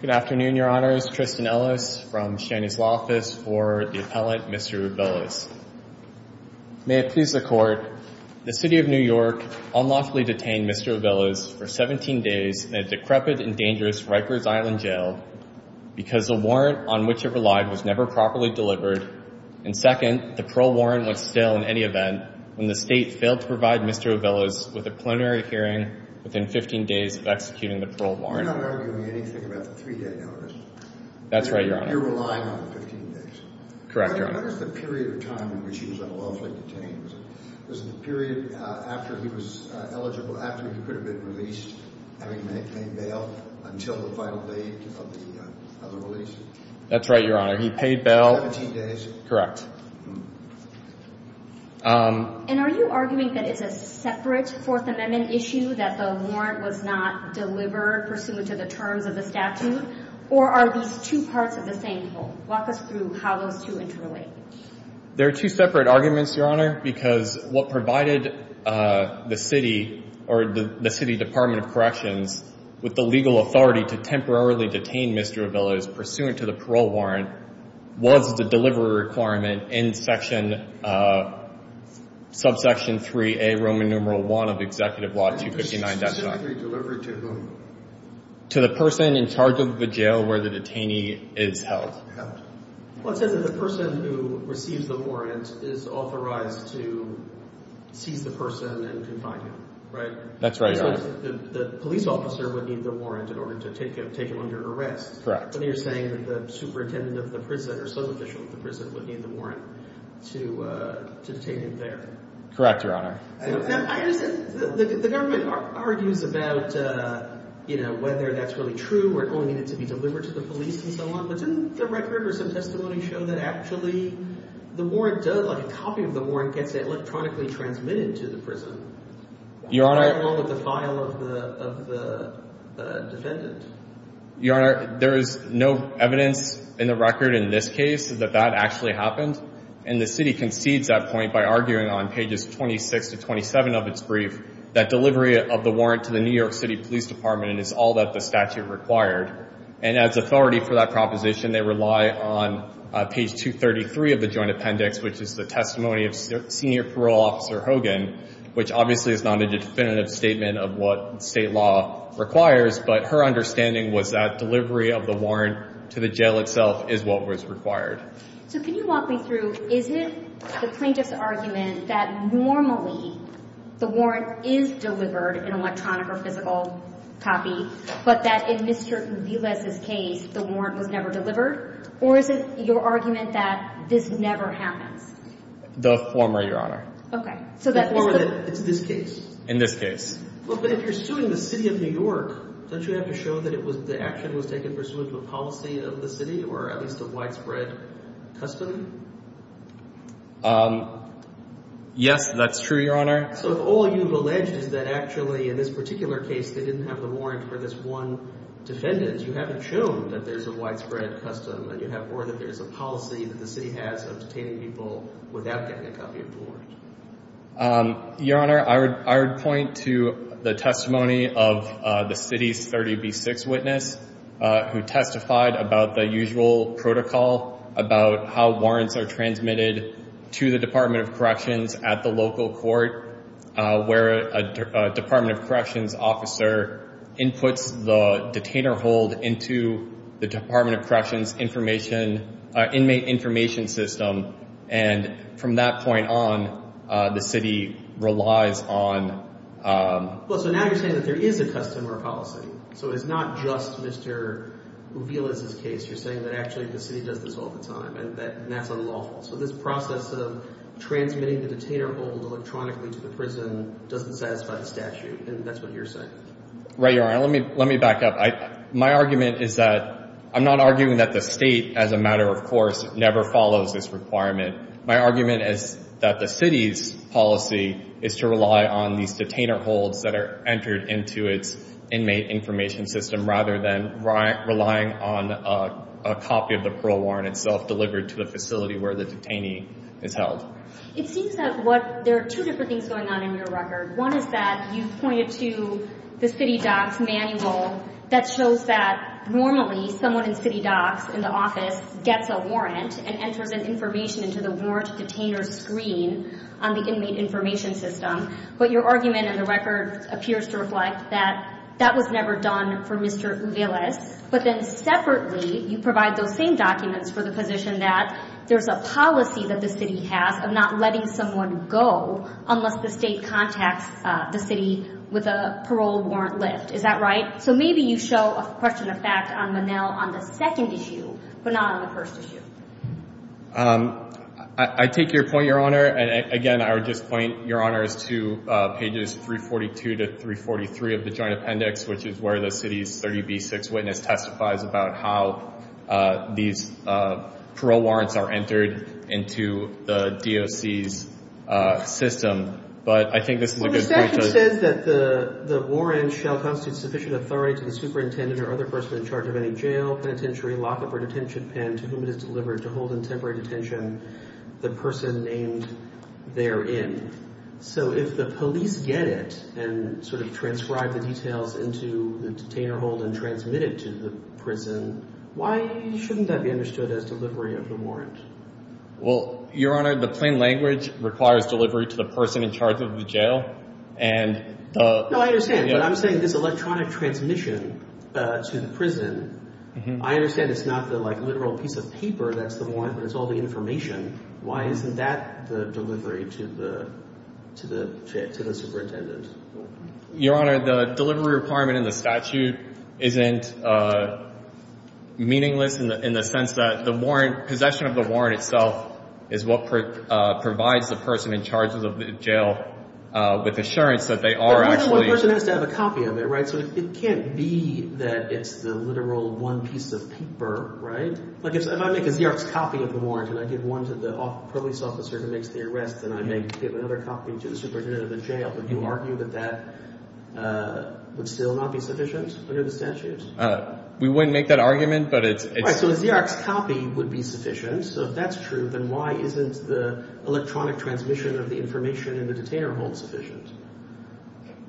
Good afternoon, your honors. Tristan Ellis from Cheney's Law Office for the appellate Mr. Ovilas. May it please the court, the City of New York unlawfully detained Mr. Ovilas for 17 days in a decrepit and dangerous Rikers Island Jail because the warrant on which it relied was never properly delivered and second, the parole warrant went stale in any event when the state failed to provide Mr. Ovilas with a plenary hearing within 15 days of executing the three day notice. That's right, your honor. You're relying on the 15 days. Correct, your honor. What is the period of time in which he was unlawfully detained? Was it the period after he was eligible, after he could have been released, having made bail until the final date of the release? That's right, your honor. He paid bail. 17 days. Correct. Um, and are you arguing that it's a separate Fourth Amendment issue that the warrant was not delivered pursuant to the terms of the statute? Or are these two parts of the same whole? Walk us through how those two interrelate. There are two separate arguments, your honor, because what provided, uh, the city or the city department of corrections with the legal authority to temporarily detain Mr. Ovilas pursuant to the parole warrant was the delivery requirement in section, uh, subsection three, a Roman numeral one of executive law 259. Delivery to whom? To the person in charge of the jail where the detainee is held. Well, it says that the person who receives the warrant is authorized to seize the person and confine him, right? That's right, your honor. The police officer would need the warrant in order to take him, take him under arrest. Correct. But you're saying that the superintendent of the prison or some official of the prison would need the warrant to, uh, to take him there. Correct, your honor. The government argues about, uh, you know, whether that's really true or it only needed to be delivered to the police and so on. But didn't the record or some testimony show that actually the warrant does like a copy of the warrant gets electronically transmitted to the prison? Your honor. Along with the file of the defendant. Your honor, there is no evidence in the record in this case that that actually happened. And the city concedes that point by arguing on pages 26 to 27 of its brief that delivery of the warrant to the New York City Police Department is all that the statute required. And as authority for that proposition, they rely on page 233 of the joint appendix, which is the testimony of senior parole officer Hogan, which obviously is not a definitive statement of what state law requires. But her understanding was that delivery of the warrant to the jail itself is what was required. So can you walk me through? Is it the plaintiff's argument that normally the warrant is delivered in electronic or physical copy, but that in Mr Viles's case, the warrant was never delivered? Or is it your argument that this never happens? The former, your honor. Okay, so that it's this case. In this case. But if you're suing the city of New York, don't you have to show that it was the action was taken pursuant to a policy of the city or at least a widespread custom? Yes, that's true, your honor. So all you've alleged is that actually in this particular case, they didn't have the warrant for this one defendant. You haven't shown that there's a widespread custom and you have more that there's a policy that the city has of detaining people without getting a copy of the your honor. I would point to the testimony of the city's 30 B six witness who testified about the usual protocol about how warrants are transmitted to the Department of Corrections at the local court where a Department of Corrections officer inputs the detainer hold into the Department of Corrections information inmate information system. And from that point on, the city relies on. Well, so now you're saying that there is a custom or a policy. So it's not just Mr. Uvila's case. You're saying that actually the city does this all the time and that's unlawful. So this process of transmitting the detainer hold electronically to the prison doesn't satisfy the statute. And that's what you're saying. Right, your honor. Let me let me back up. My argument is that I'm not arguing that the state as a matter of course, never follows this requirement. My argument is that the city's policy is to rely on these detainer holds that are entered into its inmate information system rather than relying on a copy of the parole warrant itself delivered to the facility where the detainee is held. It seems that what there are two different things going on in your record. One is that you pointed to the city docs manual that shows that normally someone in city docs in the office gets a warrant and enters an information into the warrant detainer screen on the inmate information system. But your argument in the record appears to reflect that that was never done for Mr. Uvila's. But then separately, you provide those same documents for the position that there's a policy that the city has of not letting someone go unless the state contacts the city with a parole warrant lift. Is that right? So maybe you show a question of fact on the mail on the second issue, but not on the first issue. Um, I take your point, Your Honor. And again, I would just point, Your Honor, is to pages 342 to 343 of the joint appendix, which is where the city's 30B6 witness testifies about how these parole warrants are entered into the DOC's system. But I think this is a good point to... Well, the statute says that the warrant shall constitute sufficient authority to the superintendent or other person in charge of any jail, penitentiary, lock-up or detention pen to whom it is delivered to hold in temporary detention the person named therein. So if the police get it and sort of transcribe the details into the detainer hold and transmit it to the prison, why shouldn't that be understood as delivery of the warrant? Well, Your Honor, the plain language requires delivery to the person in charge of the jail. And... No, I understand. But I'm saying this electronic transmission to the prison, I understand it's not the literal piece of paper that's the warrant, but it's all the information. Why isn't that the delivery to the superintendent? Your Honor, the delivery requirement in the statute isn't meaningless in the sense that the warrant, possession of the warrant itself is what provides the person in charge of the jail with assurance that they are actually... But neither one person has to have a copy of it, right? So it can't be that it's the literal one piece of paper, right? Like if I make a Xerox copy of the warrant and I give one to the police officer who makes the arrest, then I make another copy to the superintendent of the jail. Would you argue that that would still not be sufficient under the statute? We wouldn't make that argument, but it's... Right, so a Xerox copy would be sufficient. So if that's true, then why isn't the electronic transmission of the information in the detainer hold sufficient?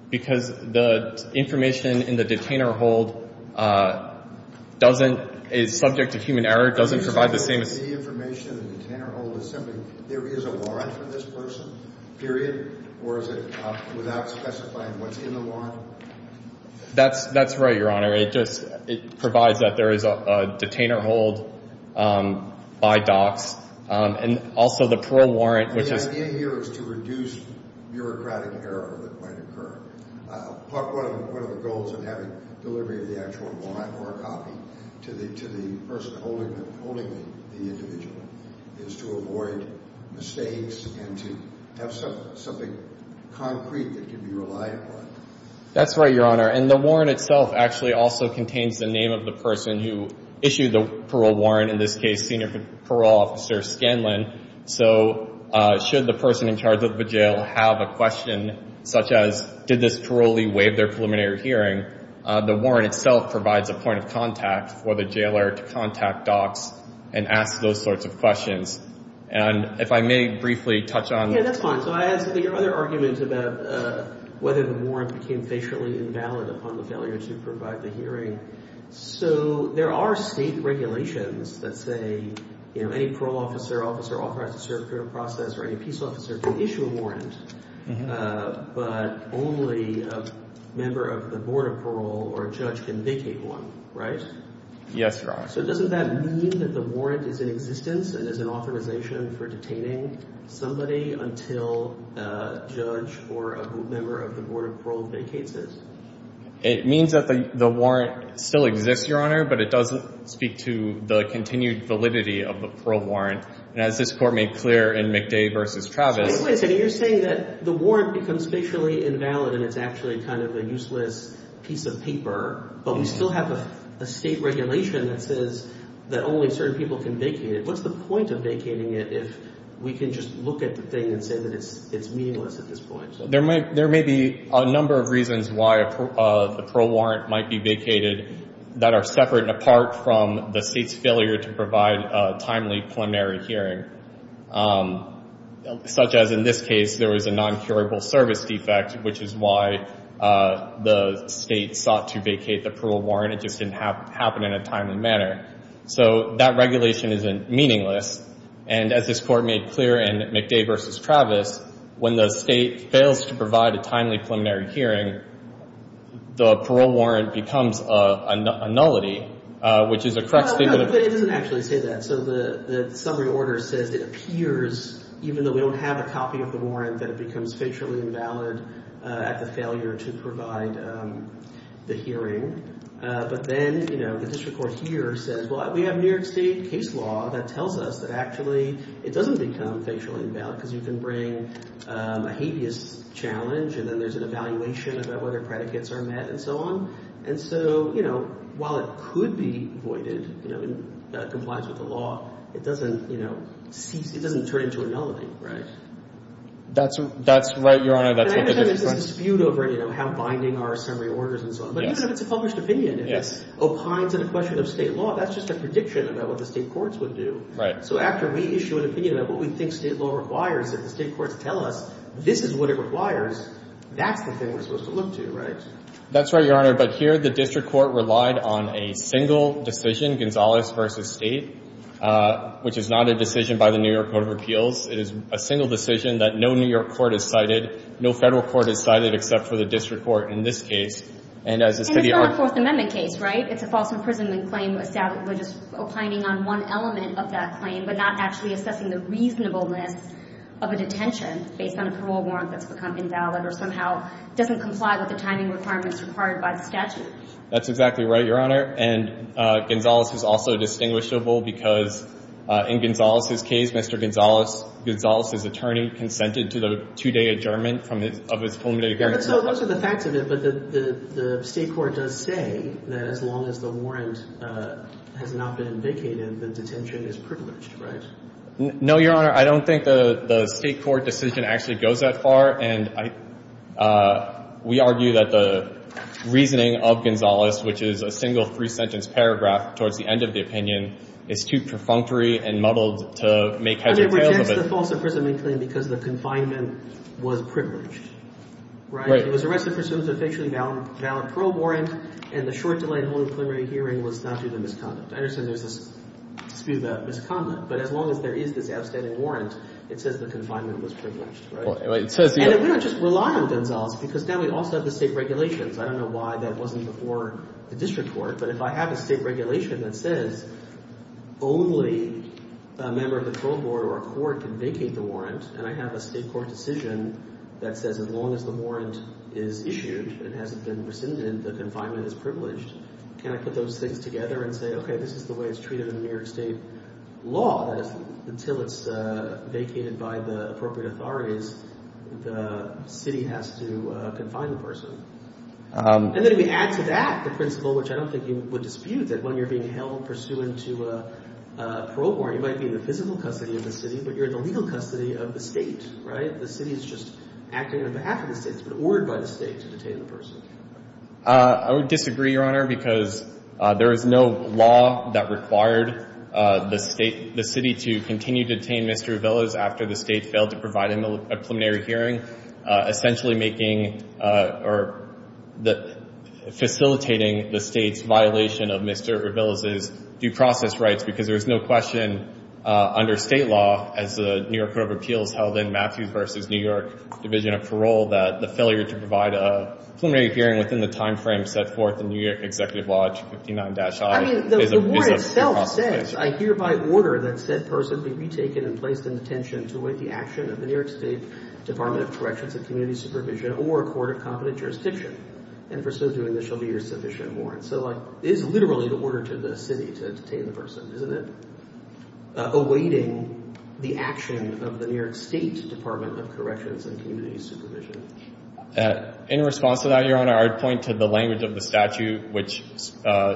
Because the information in the detainer hold doesn't...is subject to human error, doesn't provide the same... So the information in the detainer hold is simply there is a warrant for this person, period, or is it without specifying what's in the warrant? That's right, Your Honor. It just...it provides that there is a detainer hold by docs. And also the parole warrant, which is... That's right, Your Honor. And the warrant itself actually also contains the name of the person who issued the parole warrant, in this case, Senior Parole Officer Scanlon. So should the person in such as, did this parolee waive their preliminary hearing, the warrant itself provides a point of contact for the jailer to contact docs and ask those sorts of questions. And if I may briefly touch on... Yeah, that's fine. So I ask that your other argument about whether the warrant became facially invalid upon the failure to provide the hearing. So there are state regulations that say, you know, any parole officer, officer authorized to serve a criminal process or any peace officer can issue a warrant, but only a member of the Board of Parole or a judge can vacate one, right? Yes, Your Honor. So doesn't that mean that the warrant is in existence and is an authorization for detaining somebody until a judge or a member of the Board of Parole vacates it? It means that the warrant still exists, Your Honor, but it doesn't speak to the continued validity of a parole warrant. And as this Court made clear in McDay v. Travis... So wait a second, you're saying that the warrant becomes facially invalid and it's actually kind of a useless piece of paper, but we still have a state regulation that says that only certain people can vacate it. What's the point of vacating it if we can just look at the thing and say that it's meaningless at this point? So there may be a number of reasons why the parole warrant might be vacated that are separate and the state's failure to provide a timely preliminary hearing, such as in this case, there was a non-curable service defect, which is why the state sought to vacate the parole warrant. It just didn't happen in a timely manner. So that regulation isn't meaningless. And as this Court made clear in McDay v. Travis, when the state fails to provide a timely preliminary hearing, the parole warrant becomes a nullity, which is a correct statement of... No, but it doesn't actually say that. So the summary order says it appears, even though we don't have a copy of the warrant, that it becomes facially invalid at the failure to provide the hearing. But then, you know, the District Court here says, well, we have New York State case law that tells us that actually it doesn't become facially invalid because you can bring a habeas challenge and then there's an evaluation about whether predicates are met and so on. And so, you know, while it could be voided, you know, in compliance with the law, it doesn't, you know, it doesn't turn into a nullity. Right. That's right, Your Honor, that's what the District Court... And I understand there's a dispute over, you know, how binding are summary orders and so on. But even if it's a published opinion, if it's opined to the question of state law, that's just a prediction about what the state courts would do. Right. So after we issue an opinion about what we think state law requires, if the state courts tell us this is what it requires, that's the thing we're supposed to look to, right? That's right, Your Honor. But here, the District Court relied on a single decision, Gonzalez v. State, which is not a decision by the New York Code of Appeals. It is a single decision that no New York court has cited, no federal court has cited except for the District Court in this case. And as the city... And it's not a Fourth Amendment case, right? It's a false imprisonment claim, a stat that we're just opining on one element of that claim, but not actually assessing the reasonableness of a detention based on a parole warrant that's become invalid or somehow doesn't comply with the timing requirements required by the statute. That's exactly right, Your Honor. And Gonzalez is also distinguishable because in Gonzalez's case, Mr. Gonzalez, Gonzalez's attorney consented to the two-day adjournment from his, of his preliminary hearing. So those are the facts of it, but the State Court does say that as long as the warrant has not been vacated, the detention is privileged, right? No, Your Honor. I don't think the State Court decision actually goes that far. And I, we argue that the reasoning of Gonzalez, which is a single three-sentence paragraph towards the end of the opinion, is too perfunctory and muddled to make heads or tails of it. And it rejects the false imprisonment claim because the confinement was privileged, right? Right. It was arrested for suitably valid parole warrant, and the short delay in holding the preliminary hearing was not due to misconduct. I understand there's a dispute about misconduct, but as long as there is this outstanding warrant, it says the confinement was privileged, right? Well, it says, yeah. And we don't just rely on Gonzalez because now we also have the State regulations. I don't know why that wasn't before the District Court, but if I have a State regulation that says only a member of the parole board or a court can vacate the warrant, and I have a State Court decision that says as long as the warrant is issued, it hasn't been rescinded, the confinement is privileged, can I put those things together and say, okay, this is the way it's treated in New York State law, that is, until it's vacated by the appropriate authorities, the city has to confine the person? And then if we add to that the principle, which I don't think you would dispute, that when you're being held pursuant to a parole warrant, you might be in the physical custody of the city, but you're in the legal custody of the State, right? The city is just acting on behalf of the State. It's been ordered by the State to detain the person. I would disagree, Your Honor, because there is no law that required the State, the City, to continue to detain Mr. Ravillas after the State failed to provide him a preliminary hearing, essentially making or facilitating the State's violation of Mr. Ravillas' due process rights, because there's no question under State law, as the New York Court of Appeals held in Matthews New York Division of Parole, that the failure to provide a preliminary hearing within the time frame set forth in New York Executive Lodge 59-I is a possibility. I mean, the warrant itself says, I hereby order that said person be retaken and placed in detention to await the action of the New York State Department of Corrections and Community Supervision or a court of competent jurisdiction. And for so doing, there shall be your sufficient warrant. So it is literally the order to the City to detain the person, isn't it? The action of the New York State Department of Corrections and Community Supervision. In response to that, Your Honor, I would point to the language of the statute, which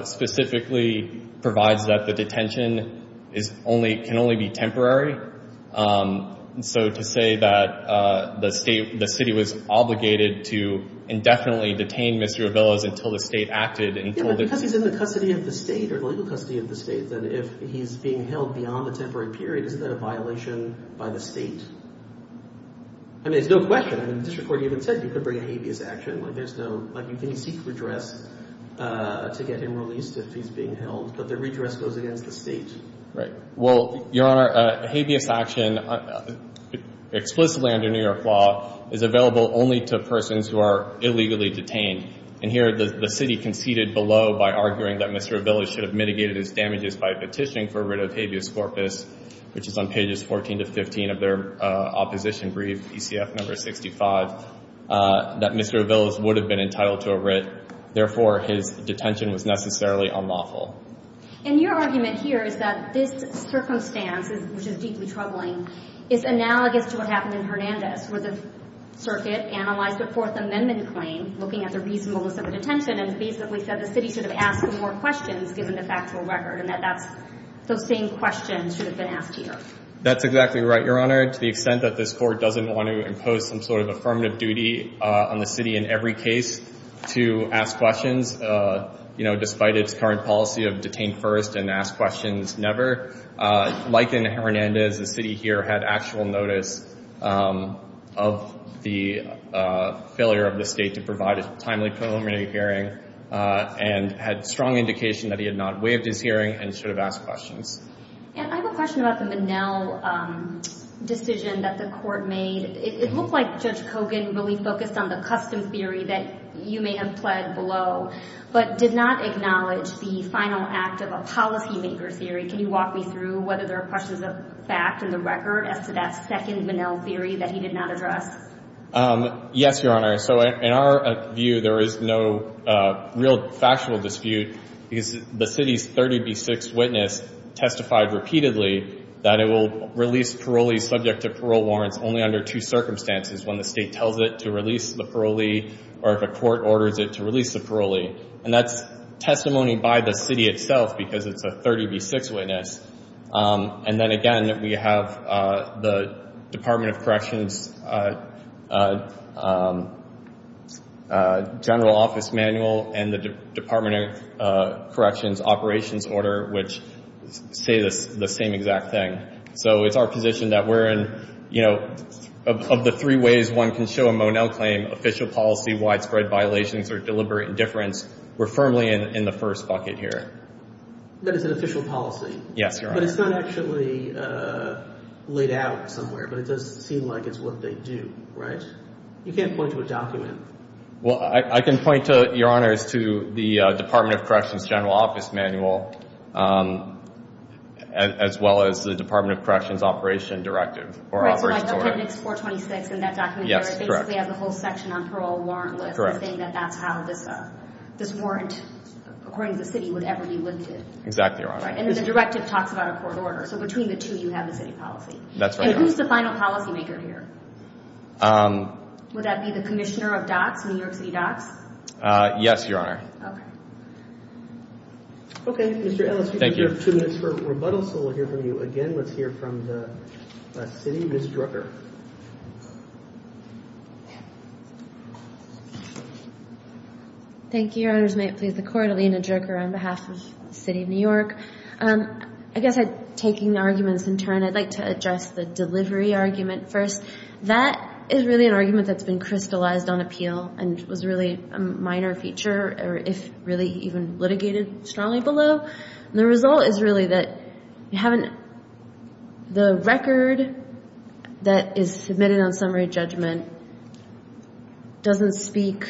specifically provides that the detention is only, can only be temporary. So to say that the State, the City was obligated to indefinitely detain Mr. Ravillas until the State acted. Because he's in the custody of the State or the legal custody of the State, that if he's being held beyond the temporary period, isn't that a violation by the State? I mean, there's no question. I mean, the district court even said you could bring a habeas action. Like there's no, like you can seek redress to get him released if he's being held, but the redress goes against the State. Right. Well, Your Honor, habeas action explicitly under New York law is available only to persons who are illegally detained. And here the City conceded below by arguing that Mr. Ravillas should have mitigated his petitioning for a writ of habeas corpus, which is on pages 14 to 15 of their opposition brief, ECF number 65, that Mr. Ravillas would have been entitled to a writ. Therefore, his detention was necessarily unlawful. And your argument here is that this circumstance, which is deeply troubling, is analogous to what happened in Hernandez, where the circuit analyzed the Fourth Amendment claim, looking at the reasonableness of the detention, and basically said the City should have asked more questions given the factual record, and that those same questions should have been asked here. That's exactly right, Your Honor. To the extent that this Court doesn't want to impose some sort of affirmative duty on the City in every case to ask questions, you know, despite its current policy of detain first and ask questions never, like in Hernandez, the City here had actual notice of the failure of the State to provide a timely preliminary hearing, and had strong indication that he had not waived his right to remain and should have asked questions. And I have a question about the Monell decision that the Court made. It looked like Judge Kogan really focused on the custom theory that you may have pled below, but did not acknowledge the final act of a policymaker theory. Can you walk me through whether there are questions of fact in the record as to that second Monell theory that he did not address? Yes, Your Honor. So in our view, there is no real factual dispute because the City's 30B6 witness testified repeatedly that it will release parolees subject to parole warrants only under two circumstances, when the State tells it to release the parolee or if a Court orders it to release the parolee. And that's testimony by the City itself because it's a 30B6 witness. And then again, we have the Department of Corrections General Office Manual and the Department of Corrections Operations Order, which say the same exact thing. So it's our position that we're in, you know, of the three ways one can show a Monell claim, official policy, widespread violations, or deliberate indifference, we're firmly in the first bucket here. That it's an official policy? Yes, Your Honor. But it's not actually laid out somewhere, but it does seem like it's what they do, right? You can't point to a document. Well, I can point to, Your Honor, is to the Department of Corrections General Office Manual as well as the Department of Corrections Operation Directive or Operation Order. Right, so like appendix 426 in that document there, it basically has the whole section on parole warrantless, saying that that's how this warrant, according to the City, would ever be lifted. Exactly, Your Honor. And the directive talks about a court order, so between the two, you have the City policy. That's right, Your Honor. And who's the final policymaker here? Would that be the Commissioner of DOTS, New York City DOTS? Yes, Your Honor. Okay. Okay, Mr. Ellis, we do have two minutes for rebuttal, so we'll hear from you again. Let's hear from the City. Ms. Drucker. Thank you, Your Honors. May it please the Court, Alina Drucker, on behalf of the City of New York. I guess taking arguments in turn, I'd like to address the delivery argument first. That is really an argument that's been crystallized on appeal and was really a minor feature, if really even litigated strongly below. The result is really that you haven't, the record that is submitted on summary judgment doesn't speak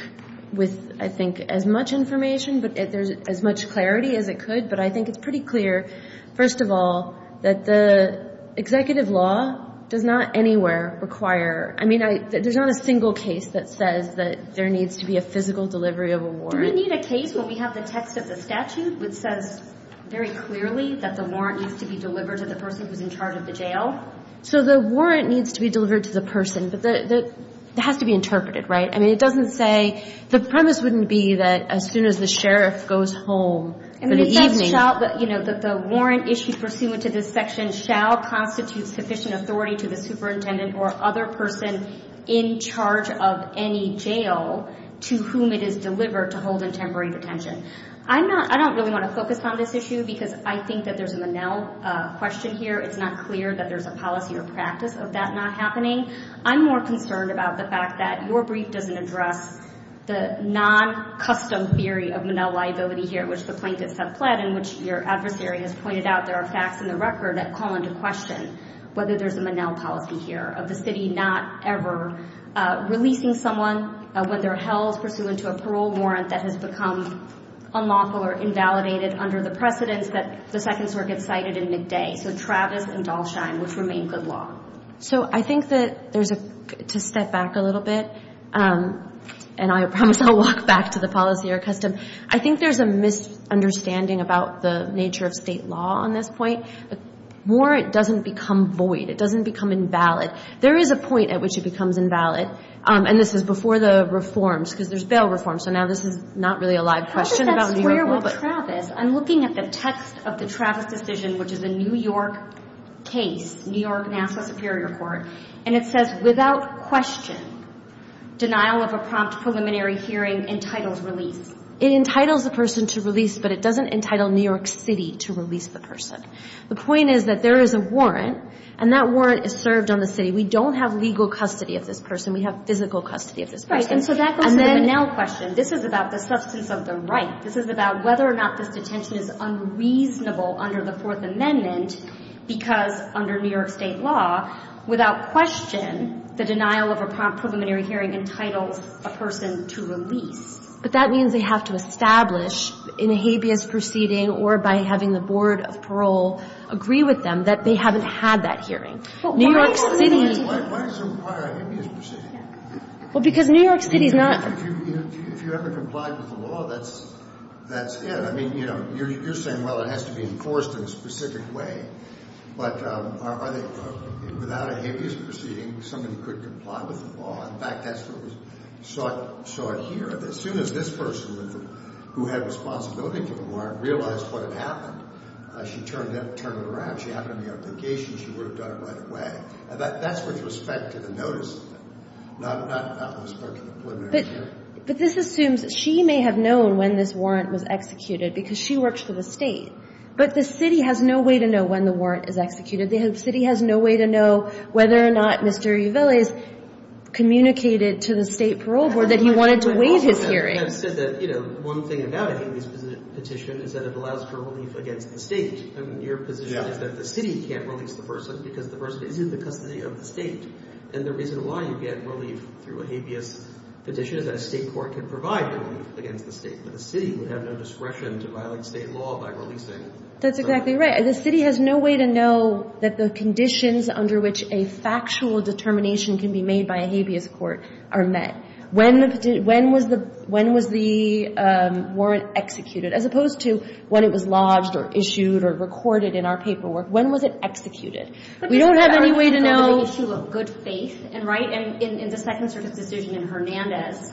with, I think, as much information, but there's as much clarity as it could. But I think it's pretty clear, first of all, that the executive law does not anywhere require, I mean, there's not a single case that says that there needs to be a physical delivery of a warrant. Do we need a case where we have the text of the statute which says very clearly that the warrant needs to be delivered to the person who's in charge of the jail? So the warrant needs to be delivered to the person, but it has to be interpreted, right? I mean, it doesn't say, the premise wouldn't be that as soon as the sheriff goes home for the evening. The warrant issued pursuant to this section shall constitute sufficient authority to the superintendent or other person in charge of any jail to whom it is delivered to hold in temporary detention. I don't really want to focus on this issue because I think that there's a Manel question here. It's not clear that there's a Manel question here. I'm more concerned about the fact that your brief doesn't address the non-custom theory of Manel liability here, which the plaintiff said pled, in which your adversary has pointed out there are facts in the record that call into question whether there's a Manel policy here of the city not ever releasing someone when they're held pursuant to a parole warrant that has become unlawful or invalidated under the precedents that the Second Circuit cited in midday, so Travis and Dalsheim, which remain good law. So I think that there's a, to step back a little bit, and I promise I'll walk back to the policy or custom, I think there's a misunderstanding about the nature of state law on this point. The more it doesn't become void, it doesn't become invalid. There is a point at which it becomes invalid, and this is before the reforms, because there's bail reforms, so now this is not really a live question about New York law. I'm looking at the text of the Travis decision, which is a New York case, New York-Nassau Superior Court, and it says, without question, denial of a prompt preliminary hearing entitles release. It entitles the person to release, but it doesn't entitle New York City to release the person. The point is that there is a warrant, and that warrant is served on the city. We don't have legal custody of this person. We have physical custody of this person. Right, and so that goes to the Manel question. This is about the substance of the right. This is about whether or not this detention is unreasonable under the Fourth Amendment, because under New York State law, without question, the denial of a prompt preliminary hearing entitles a person to release. But that means they have to establish, in a habeas proceeding or by having the Board of Parole agree with them, that they haven't had that hearing. Why does it require a habeas proceeding? Well, because New York City is not a state. If you ever complied with the law, that's it. I mean, you know, you're saying, well, it has to be enforced in a specific way, but without a habeas proceeding, somebody could comply with the law. In fact, that's what was sought here. As soon as this person who had responsibility to the warrant realized what had happened, she turned it around. She happened to be on vacation. She would have done it right away. That's with respect to the preliminary hearing. But this assumes she may have known when this warrant was executed because she worked for the state. But the city has no way to know when the warrant is executed. The city has no way to know whether or not Mr. Uvele has communicated to the State Parole Board that he wanted to waive his hearing. I have said that, you know, one thing about a habeas petition is that it allows for relief against the state. And your position is that the city can't release the person because the person is in the custody of the state. And the reason why you get relief through a habeas petition is that a state court can provide relief against the state, but the city would have no discretion to violate state law by releasing. That's exactly right. The city has no way to know that the conditions under which a factual determination can be made by a habeas court are met. When was the warrant executed? As opposed to when it was lodged or issued or recorded in our paperwork, when was it executed? We don't have any way to know. The issue of good faith, and right, in the Second Circuit's decision in Hernandez,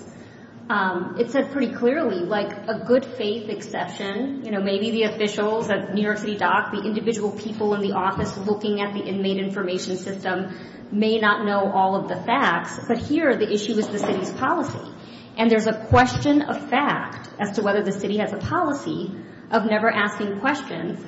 it said pretty clearly, like, a good faith exception, you know, maybe the officials at New York City Dock, the individual people in the office looking at the inmate information system may not know all of the facts, but here the issue is the city's policy. And there's a question of fact as to whether the city has a policy of never asking questions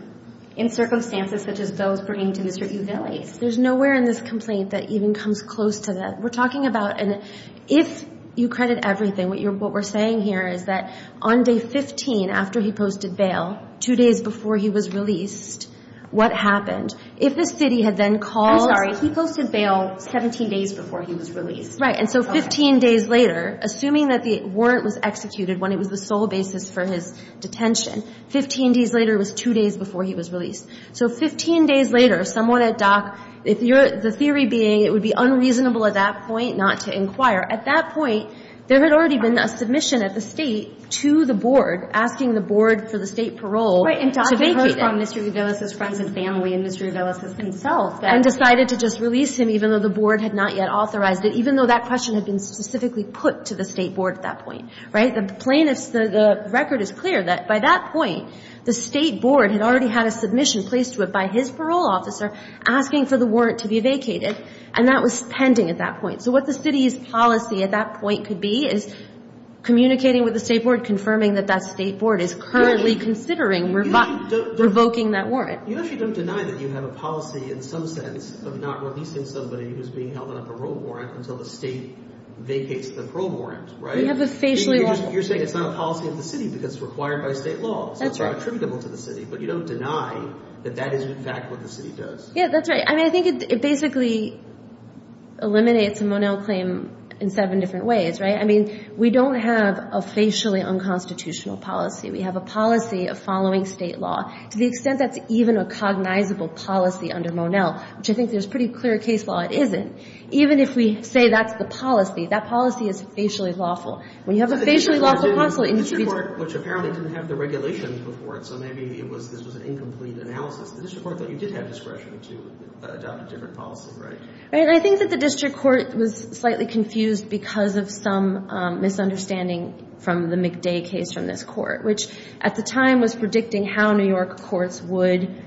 in circumstances such as those bringing to the city of L.A. There's nowhere in this complaint that even comes close to that. We're talking about, and if you credit everything, what we're saying here is that on day 15 after he posted bail, two days before he was released, what happened? If the city had then called. I'm sorry, he posted bail 17 days before he was released. Right, and so 15 days later, assuming that the warrant was executed when it was the sole basis for his detention, 15 days later was two days before he was released. So 15 days later, someone at Dock, if you're, the theory being it would be unreasonable at that point not to inquire. At that point, there had already been a submission at the State to the Board asking the Board for the State parole to vacate him. Right, and Dock heard from Mr. Uvellis' friends and family and Mr. Uvellis himself. And decided to just release him even though the Board had not yet authorized it, even though that question had been specifically put to the State Board at that point. Right? The record is clear that by that point, the State Board had already had a submission placed to it by his parole officer asking for the warrant to be vacated. And that was pending at that point. So what the city's policy at that point could be is communicating with the State Board, confirming that that State Board is currently considering revoking that warrant. You actually don't deny that you have a policy in some sense of not releasing somebody who's being held on a parole warrant until the State vacates the parole warrant, right? You're saying it's not a policy of the City because it's required by State law, so it's not attributable to the City. But you don't deny that that is in fact what the City does. Yeah, that's right. I mean, I think it basically eliminates a Monell claim in seven different ways, right? I mean, we don't have a facially unconstitutional policy. We have a policy of following State law to the extent that's even a cognizable policy under Monell, which I think there's pretty clear case law it isn't. Even if we say that's the policy, that policy is facially lawful. When you have a facially lawful policy, it needs to be... The District Court, which apparently didn't have the regulations before it, so maybe this was an incomplete analysis. The District Court thought you did have discretion to adopt a different policy, right? Right, and I think that the District Court was slightly confused because of some misunderstanding from the McDay case from this Court, which at the time was predicting how New York courts would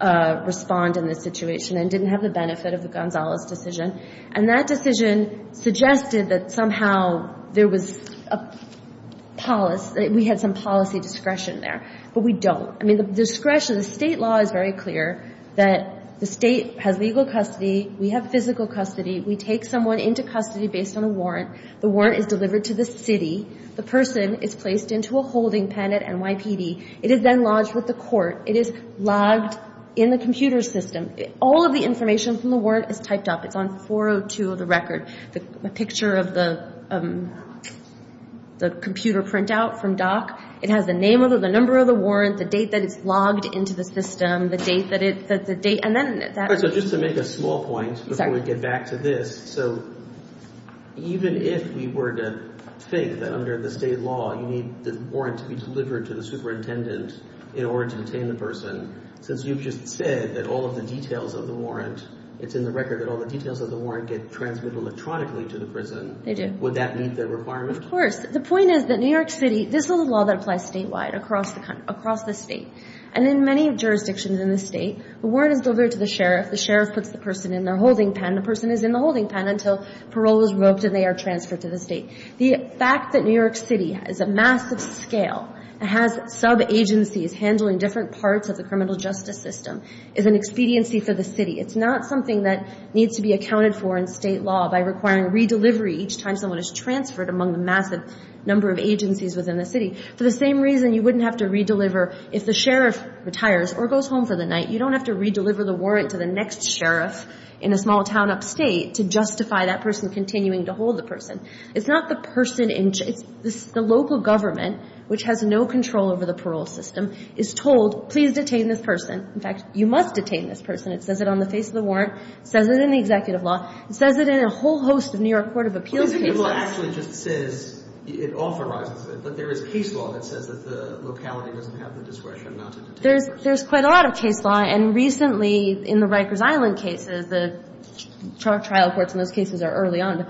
respond in this situation and didn't have the benefit of the Gonzalez decision. And that decision suggested that somehow there was a policy, that we had some policy discretion there, but we don't. I mean, the discretion, the State law is very clear that the State has legal custody, we have physical custody, we take someone into custody based on a warrant, the warrant is delivered to the City, the person is placed into a holding pen at NYPD, it is then lodged with the Court, it is logged in the computer system. All of the information from the warrant is typed up. It's on 402 of the record. The picture of the computer printout from Dock, it has the name of the number of the warrant, the date that it's logged into the system, the date that it, and then that... So just to make a small point before we get back to this, so even if we were to think that under the State law you need the warrant to be delivered to the superintendent in order to detain the person, since you've just said that all of the details of the warrant, it's in the record that all the details of the warrant get transmitted electronically to the prison, would that meet the requirement? Of course. The point is that New York City, this is a law that applies statewide across the State, and in many jurisdictions in the State, the warrant is delivered to the sheriff, the sheriff puts the person in their holding pen, the person is in the holding pen until parole is revoked and they are transferred to the State. The fact that New York City is a massive scale, it has sub-agencies handling different parts of the criminal justice system, is an expediency for the City. It's not something that needs to be accounted for in State law by requiring re-delivery each time someone is transferred among the massive number of agencies within the City. For the same reason you wouldn't have to re-deliver if the sheriff retires or goes home for the night, you don't have to re-deliver the warrant to the next sheriff in a small town upstate to justify that person continuing to hold the person. It's not the person, it's the local government, which has no control over the parole system, is told, please detain this person, in fact you must detain this person, it says it on the face of the warrant, it says it in the executive law, it says it in a whole host of New York Court of Appeals cases. But the rule actually just says, it authorizes it, but there is case law that says that the locality doesn't have the discretion not to detain a person. There's quite a lot of case law and recently in the Rikers Island cases, the trial courts in those cases are early on,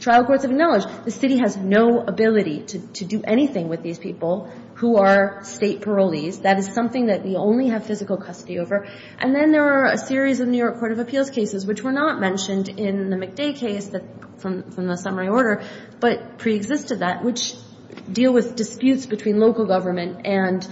trial courts have acknowledged the City has no ability to do anything with these people who are State parolees, that is something that we only have physical custody over, and then there are a series of New York Court of Appeals cases which were not mentioned in the McDay case from the summary order, but pre-existed that, which deal with disputes between local government and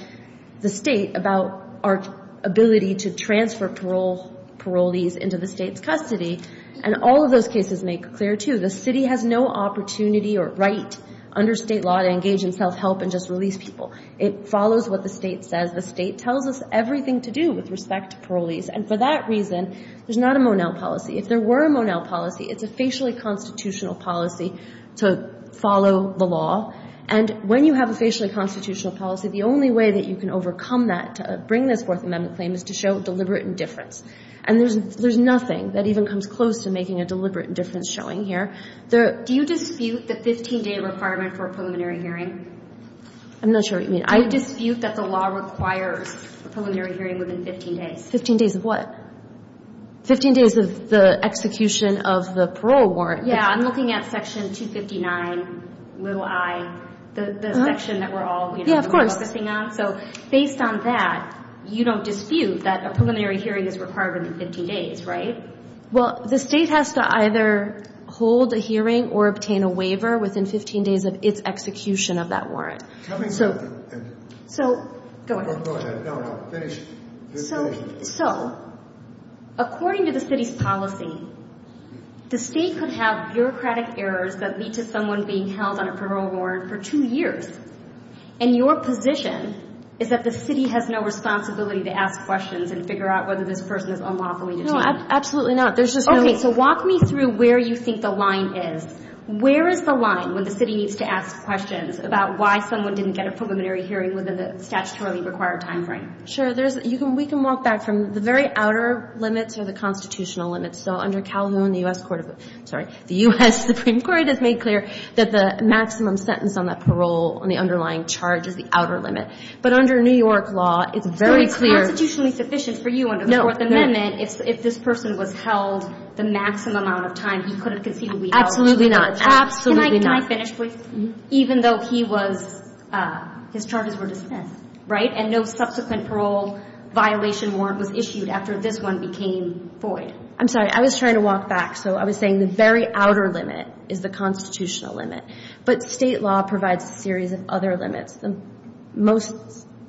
the State about our ability to transfer parolees into the State's custody, and all of those cases make clear too, the City has no opportunity or right under State law to engage in self-help and just release people. It follows what the State says, the State tells us everything to do with respect to parolees, and for that reason, there's not a Monell policy. If there were a Monell policy, it's a facially constitutional policy to follow the law, and when you have a facially constitutional policy, the only way that you can overcome that to bring this Fourth Amendment claim is to show deliberate indifference. And there's nothing that even comes close to making a deliberate indifference showing here. There – Do you dispute the 15-day requirement for a preliminary hearing? I'm not sure what you mean. I dispute that the law requires a preliminary hearing within 15 days. 15 days of what? 15 days of the execution of the parole warrant. Yeah, I'm looking at Section 259, little I, the section that we're all focusing on. So based on that, you don't dispute that a preliminary hearing is required within 15 days, right? Well, the State has to either hold a hearing or obtain a waiver within 15 days of its execution of that warrant. Tell me something. So – Go ahead. Go ahead. No, no. Finish. So according to the City's policy, the State could have bureaucratic errors that lead to someone being held on a parole warrant for two years, and your position is that the City has no responsibility to ask questions and figure out whether this person is unlawfully detained. No, absolutely not. There's just no – Okay, so walk me through where you think the line is. Where is the line when the City needs to ask questions about why someone didn't get a preliminary hearing within the statutorily required timeframe? Sure. We can walk back from the very outer limits or the constitutional limits. So under Calhoun, the U.S. Supreme Court has made clear that the maximum sentence on that parole, on the underlying charge, is the outer limit. But under New York law, it's very clear – So it's constitutionally sufficient for you under the Fourth Amendment if this person was held the maximum amount of time he could have conceded a waiver. Absolutely not. Can I finish, please? Even though he was – his charges were dismissed, right? And no subsequent parole violation warrant was issued after this one became void. I'm sorry. I was trying to walk back. So I was saying the very outer limit is the constitutional limit. But State law provides a series of other limits, the most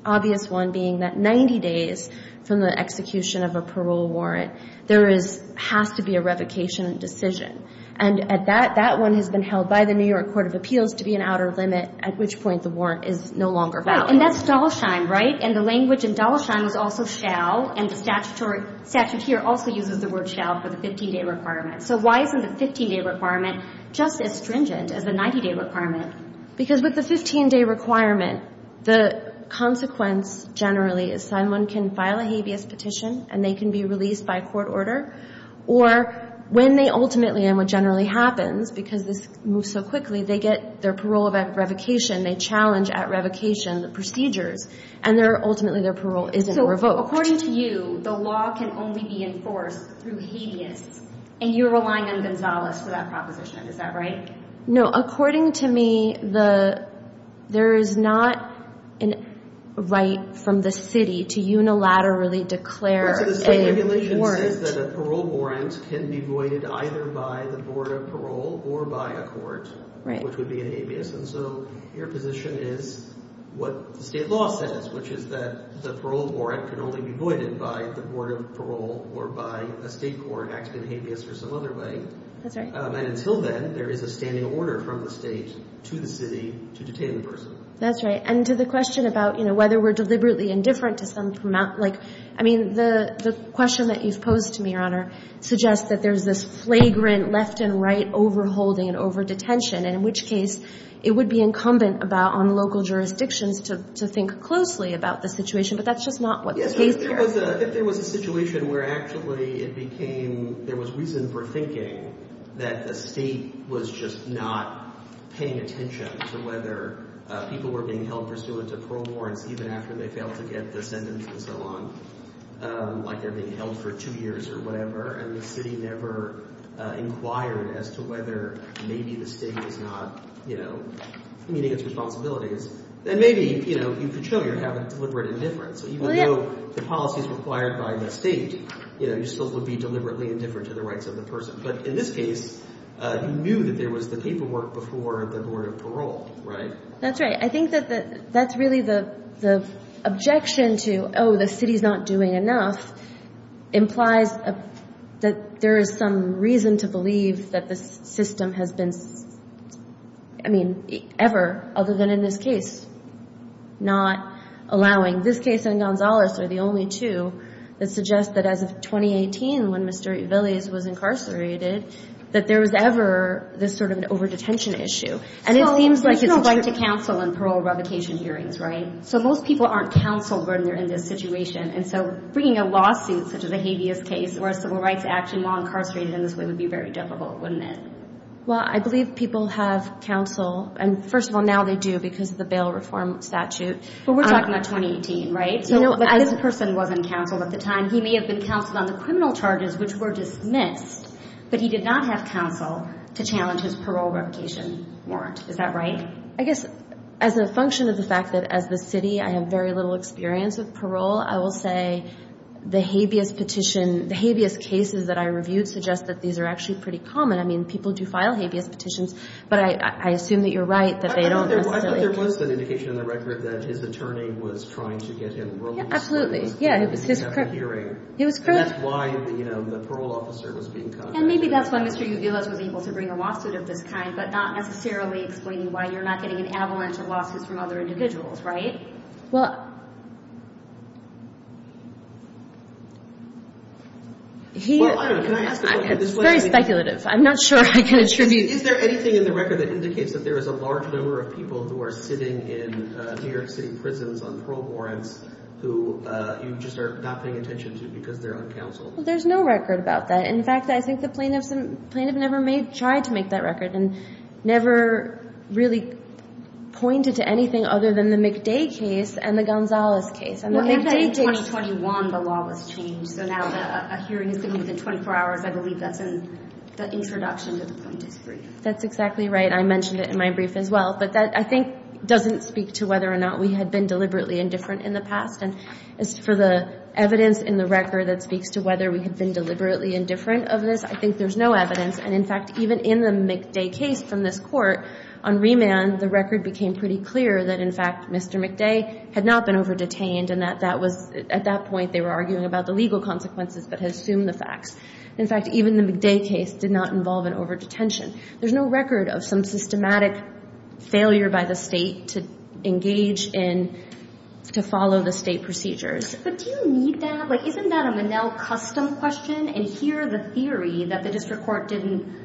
obvious one being that 90 days from the execution of a parole warrant, there is – has to be a revocation decision. And at that, that one has been held by the New York Court of Appeals to be an outer limit, at which point the warrant is no longer valid. Right. And that's Dalsheim, right? And the language in Dalsheim is also shall, and the statutory – statute here also uses the word shall for the 15-day requirement. So why isn't the 15-day requirement just as stringent as the 90-day requirement? Because with the 15-day requirement, the consequence generally is someone can file a habeas petition, and they can be released by court order. Or when they ultimately – and what generally happens, because this moves so quickly, they get their parole revocation, they challenge at revocation the procedures, and ultimately their parole isn't revoked. According to you, the law can only be enforced through habeas, and you're relying on Gonzales for that proposition. Is that right? No. According to me, the – there is not an right from the city to unilaterally declare a warrant. Well, the state regulation says that a parole warrant can be voided either by the Board of Parole or by a court, which would be in habeas. And so your position is what the state law says, which is that the parole warrant can only be voided by the Board of Parole or by a state court acting in habeas or some other way. That's right. And until then, there is a standing order from the state to the city to detain the person. That's right. And to the question about, you know, whether we're deliberately indifferent to some – like, I mean, the question that you've posed to me, Your Honor, suggests that there's this flagrant left and right overholding and overdetention, and in which case it would be incumbent about – on local jurisdictions to think closely about the situation. But that's just not what the case here is. If there was a situation where actually it became – there was reason for thinking that the state was just not paying attention to whether people were being held pursuant to parole warrants even after they failed to get the sentence and so on, like they're being held for two years or whatever, and the city never inquired as to whether maybe the state was not, you know, meeting its responsibilities, then maybe, you know, you could show you have a deliberate indifference. Even though the policies required by the state, you know, you still would be – in this case, you knew that there was the paperwork before the Board of Parole, right? That's right. I think that that's really the objection to, oh, the city's not doing enough, implies that there is some reason to believe that the system has been – I mean, ever, other than in this case, not allowing – this case and Gonzalez are the only two that suggest that as of 2018, when Mr. Villes was incarcerated, that there was ever this sort of an over-detention issue, and it seems like it's – There's no right to counsel in parole revocation hearings, right? So most people aren't counseled when they're in this situation, and so bringing a lawsuit such as a habeas case or a civil rights action while incarcerated in this way would be very difficult, wouldn't it? Well, I believe people have counsel, and first of all, now they do because of the bail reform statute. But we're talking about 2018, right? But this person wasn't counseled at the time. He may have been counseled on the criminal charges, which were dismissed, but he did not have counsel to challenge his parole revocation warrant. Is that right? I guess as a function of the fact that as the city, I have very little experience with parole, I will say the habeas petition – the habeas cases that I reviewed suggest that these are actually pretty common. I mean, people do file habeas petitions, but I assume that you're right, that they don't necessarily – I think there was an indication in the record that his attorney was trying to get him released. Yeah, absolutely. Yeah, it was his – He had a hearing. It was correct. And that's why, you know, the parole officer was being contacted. And maybe that's why Mr. Uviles was able to bring a lawsuit of this kind, but not necessarily explaining why you're not getting an avalanche of lawsuits from other individuals, right? Well, he – Well, I don't know. Can I ask a question? It's very speculative. I'm not sure I can attribute – Is there anything in the record that indicates that there is a large number of people who are sitting in New York City prisons on parole warrants who you just are not paying attention to because they're uncounseled? There's no record about that. In fact, I think the plaintiff never made – tried to make that record and never really pointed to anything other than the McDay case and the Gonzales case. Well, in 2021, the law was changed, so now a hearing is going to be within 24 hours. I believe that's in the introduction to the plaintiff's brief. That's exactly right. I mentioned it in my brief as well. But that, I think, doesn't speak to whether or not we had been deliberately indifferent in the past. And as for the evidence in the record that speaks to whether we had been deliberately indifferent of this, I think there's no evidence. And in fact, even in the McDay case from this court, on remand, the record became pretty clear that, in fact, Mr. McDay had not been over-detained and that that was – at that point, they were arguing about the legal consequences, but had assumed the facts. In fact, even the McDay case did not involve an over-detention. There's no record of some systematic failure by the state to engage in – to follow the state procedures. But do you need that? Like, isn't that a Monell custom question? And here, the theory that the district court didn't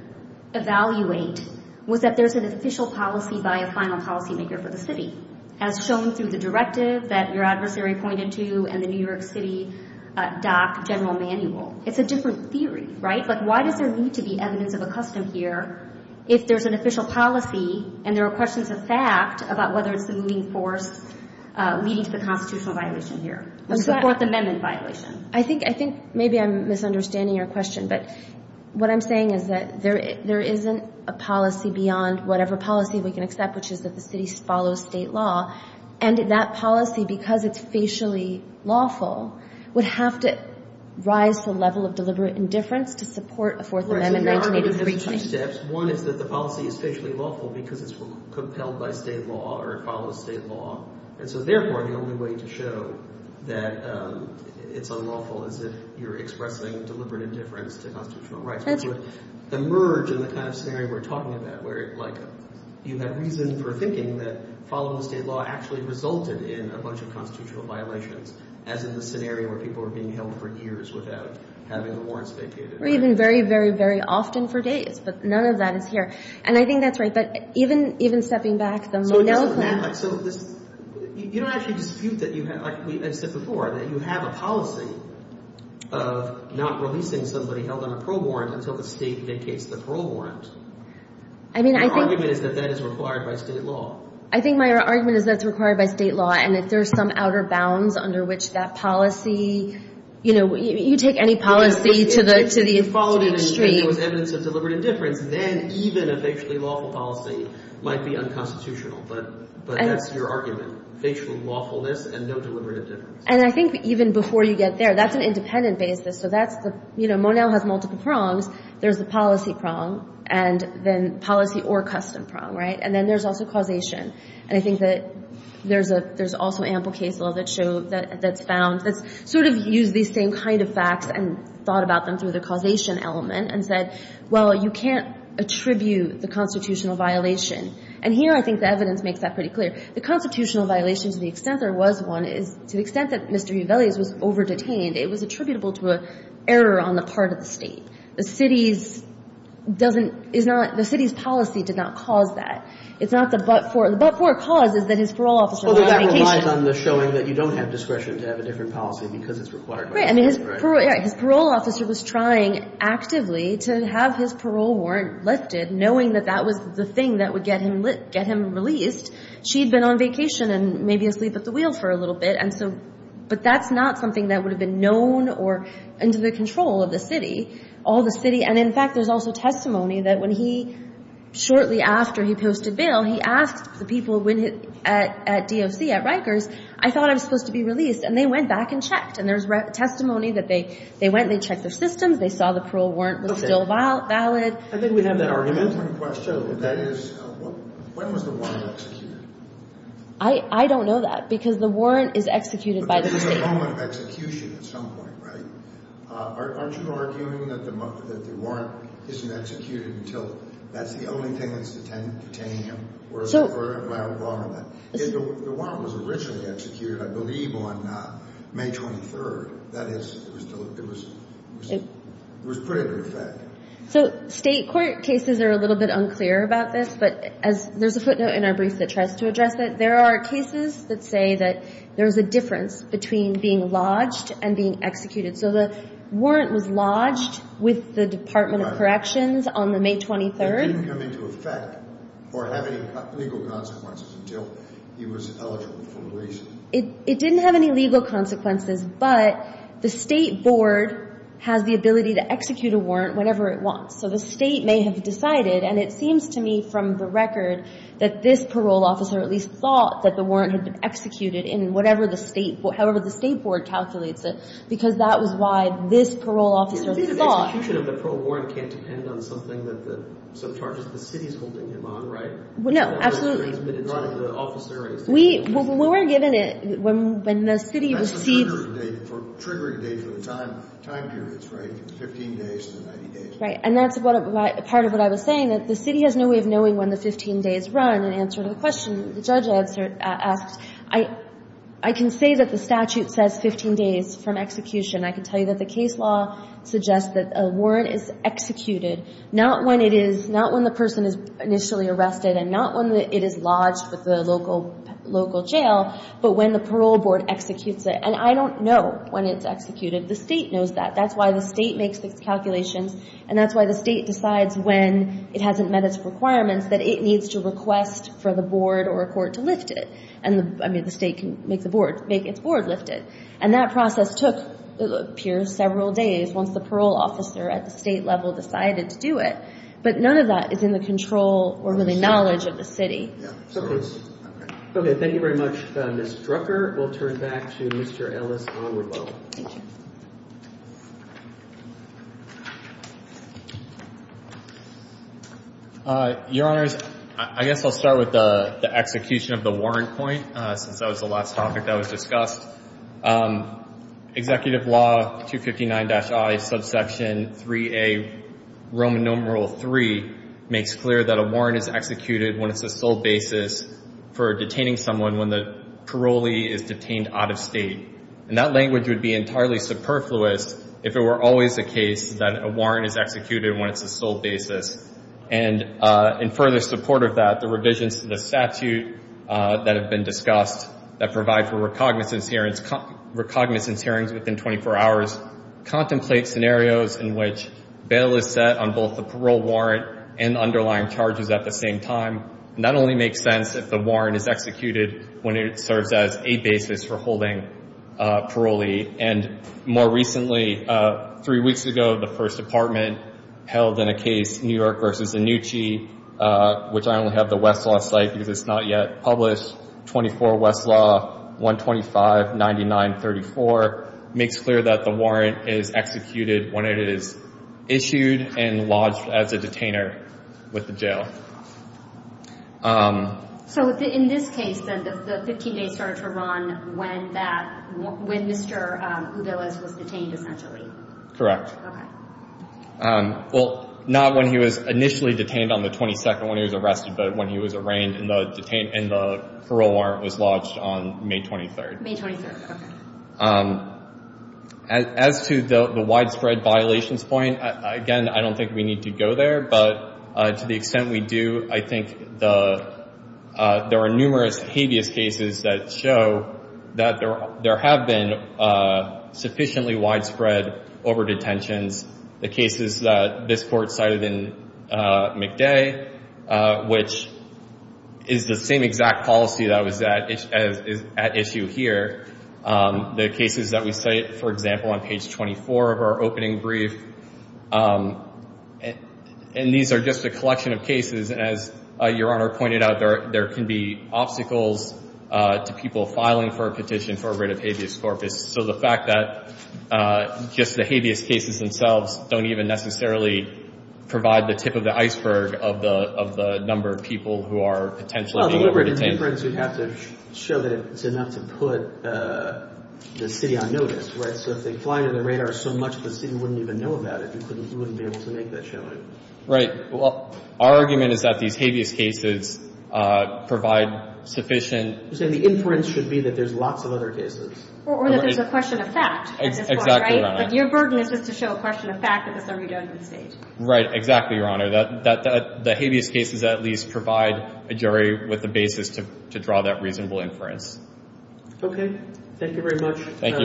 evaluate was that there's an official policy by a final policymaker for the city, as shown through the directive that your adversary pointed to and the New York City DoC General Manual. It's a different theory, right? Like, why does there need to be evidence of a custom here if there's an official policy and there are questions of fact about whether it's the moving force leading to the constitutional violation here, which is the Fourth Amendment violation? I think – I think maybe I'm misunderstanding your question. But what I'm saying is that there isn't a policy beyond whatever policy we can accept, which is that the city follows state law. And that policy, because it's facially lawful, would have to rise to the level of deliberate indifference to support a Fourth Amendment 1983 change. Well, I think there are a couple of steps. One is that the policy is facially lawful because it's compelled by state law or it follows state law. And so, therefore, the only way to show that it's unlawful is if you're expressing deliberate indifference to constitutional rights, which would emerge in the kind of scenario we're talking about, where, like, you have reason for thinking that following the state law actually resulted in a bunch of constitutional violations, as in the scenario where people were being held for years without having the warrants vacated. Or even very, very, very often for days. But none of that is here. And I think that's right. But even – even stepping back, the monoclonal – So it doesn't – so this – you don't actually dispute that you – like I said before, that you have a policy of not releasing somebody held on a parole warrant until the state vacates the parole warrant. I mean, I think – Your argument is that that is required by state law. I think my argument is that it's required by state law. And if there's some outer bounds under which that policy – you know, you take any policy to the – to the extreme. If you followed it and there was evidence of deliberate indifference, then even a facially lawful policy might be unconstitutional. But that's your argument. Facially lawfulness and no deliberate indifference. And I think even before you get there, that's an independent basis. So that's the – you know, Monell has multiple prongs. There's the policy prong and then policy or custom prong, right? And then there's also causation. And I think that there's a – there's also ample case law that show – that's found – that's sort of used these same kind of facts and thought about them through the causation element and said, well, you can't attribute the constitutional violation. And here I think the evidence makes that pretty clear. The constitutional violation, to the extent there was one, is to the extent that Mr. Uveles was over-detained, it was attributable to an error on the part of the state. The city's – doesn't – is not – the It's not the but-for. The but-for cause is that his parole officer was on vacation. Well, that relies on the showing that you don't have discretion to have a different policy because it's required by the state. Right. I mean, his parole officer was trying actively to have his parole warrant lifted, knowing that that was the thing that would get him released. She'd been on vacation and maybe asleep at the wheel for a little bit. And so – but that's not something that would have been known or under the control of the city. All the city – and in fact, there's also testimony that when he – shortly after he posted bail, he asked the people when – at DOC, at Rikers, I thought I was supposed to be released. And they went back and checked. And there's testimony that they went and they checked their systems. They saw the parole warrant was still valid. Okay. I think we have an argument. I have one question. That is, when was the warrant executed? I don't know that because the warrant is executed by the state. But there's a moment of execution at some point, right? Aren't you arguing that the warrant isn't executed until – that's the only thing that's detaining him? So – Or is there a prior warrant? The warrant was originally executed, I believe, on May 23rd. That is, it was put into effect. So state court cases are a little bit unclear about this. But as – there's a footnote in our brief that tries to address that. There are cases that say that there's a difference between being lodged and being executed. So the warrant was lodged with the Department of Corrections on the May 23rd. It didn't come into effect or have any legal consequences until he was eligible for release. It didn't have any legal consequences, but the state board has the ability to execute a warrant whenever it wants. So the state may have decided – and it seems to me from the record that this parole officer at least thought that the warrant had been executed in whatever the state – however the state board calculates it, because that was why this parole officer thought – The execution of the parole warrant can't depend on something that the – subcharges the city's holding him on, right? No, absolutely. It's not in the officer's – We were given it when the city received – That's the triggering date for the time periods, right, 15 days to 90 days. Right. And that's part of what I was saying, that the city has no way of knowing when the I can say that the statute says 15 days from execution. I can tell you that the case law suggests that a warrant is executed not when it is – not when the person is initially arrested and not when it is lodged with the local jail, but when the parole board executes it. And I don't know when it's executed. The state knows that. That's why the state makes its calculations and that's why the state decides when it hasn't met its requirements, that it needs to request for the board or a court to lift it. And the – I mean, the state can make the board – make its board lift it. And that process took, it appears, several days once the parole officer at the state level decided to do it. But none of that is in the control or the knowledge of the city. Okay. Thank you very much, Ms. Drucker. We'll turn back to Mr. Ellis-Aguirre-Bow. Thank you. Your Honors, I guess I'll start with the execution of the warrant point, since that was the last topic that was discussed. Executive law 259-I, subsection 3A, Roman numeral 3, makes clear that a warrant is executed when it's the sole basis for detaining someone when the parolee is detained out of state. And that language would be entirely superfluous if it were always the case that a warrant is executed when it's the sole basis. And in further support of that, the revisions to the statute that have been discussed that provide for recognizance hearings within 24 hours contemplate scenarios in which bail is set on both the parole warrant and underlying charges at the same time. That only makes sense if the warrant is executed when it serves as a basis for holding parolee. And more recently, three weeks ago, the First Department held in a case, New York v. Anucci, which I only have the Westlaw site because it's not yet published, 24 Westlaw 125-9934, makes clear that the warrant is executed when it is issued and So in this case, the 15 days started to run when Mr. Udelez was detained, essentially? Correct. Well, not when he was initially detained on the 22nd when he was arrested, but when he was arraigned and the parole warrant was lodged on May 23rd. As to the widespread violations point, again, I don't think we need to go there, but to the extent we do, I think there are numerous habeas cases that show that there have been sufficiently widespread overdetentions. The cases that this court cited in McDay, which is the same exact policy that was at issue here, the cases that we cite, for example, on page 24 of our opening brief, and these are just a collection of cases. And as Your Honor pointed out, there can be obstacles to people filing for a petition for a writ of habeas corpus. So the fact that just the habeas cases themselves don't even necessarily provide the tip of the iceberg of the number of people who are potentially being over-detained. Well, if it were an inference, we'd have to show that it's enough to put the city on notice, right? So if they fly under the radar so much, the city wouldn't even know about it. We wouldn't be able to make that showing. Right. Well, our argument is that these habeas cases provide sufficient — You're saying the inference should be that there's lots of other cases. Or that there's a question of fact at this point, right? Exactly, Your Honor. But your burden is just to show a question of fact that there's a redundant state. Right. Exactly, Your Honor. The habeas cases at least provide a jury with the basis to draw that reasonable inference. Okay. Thank you very much. Thank you.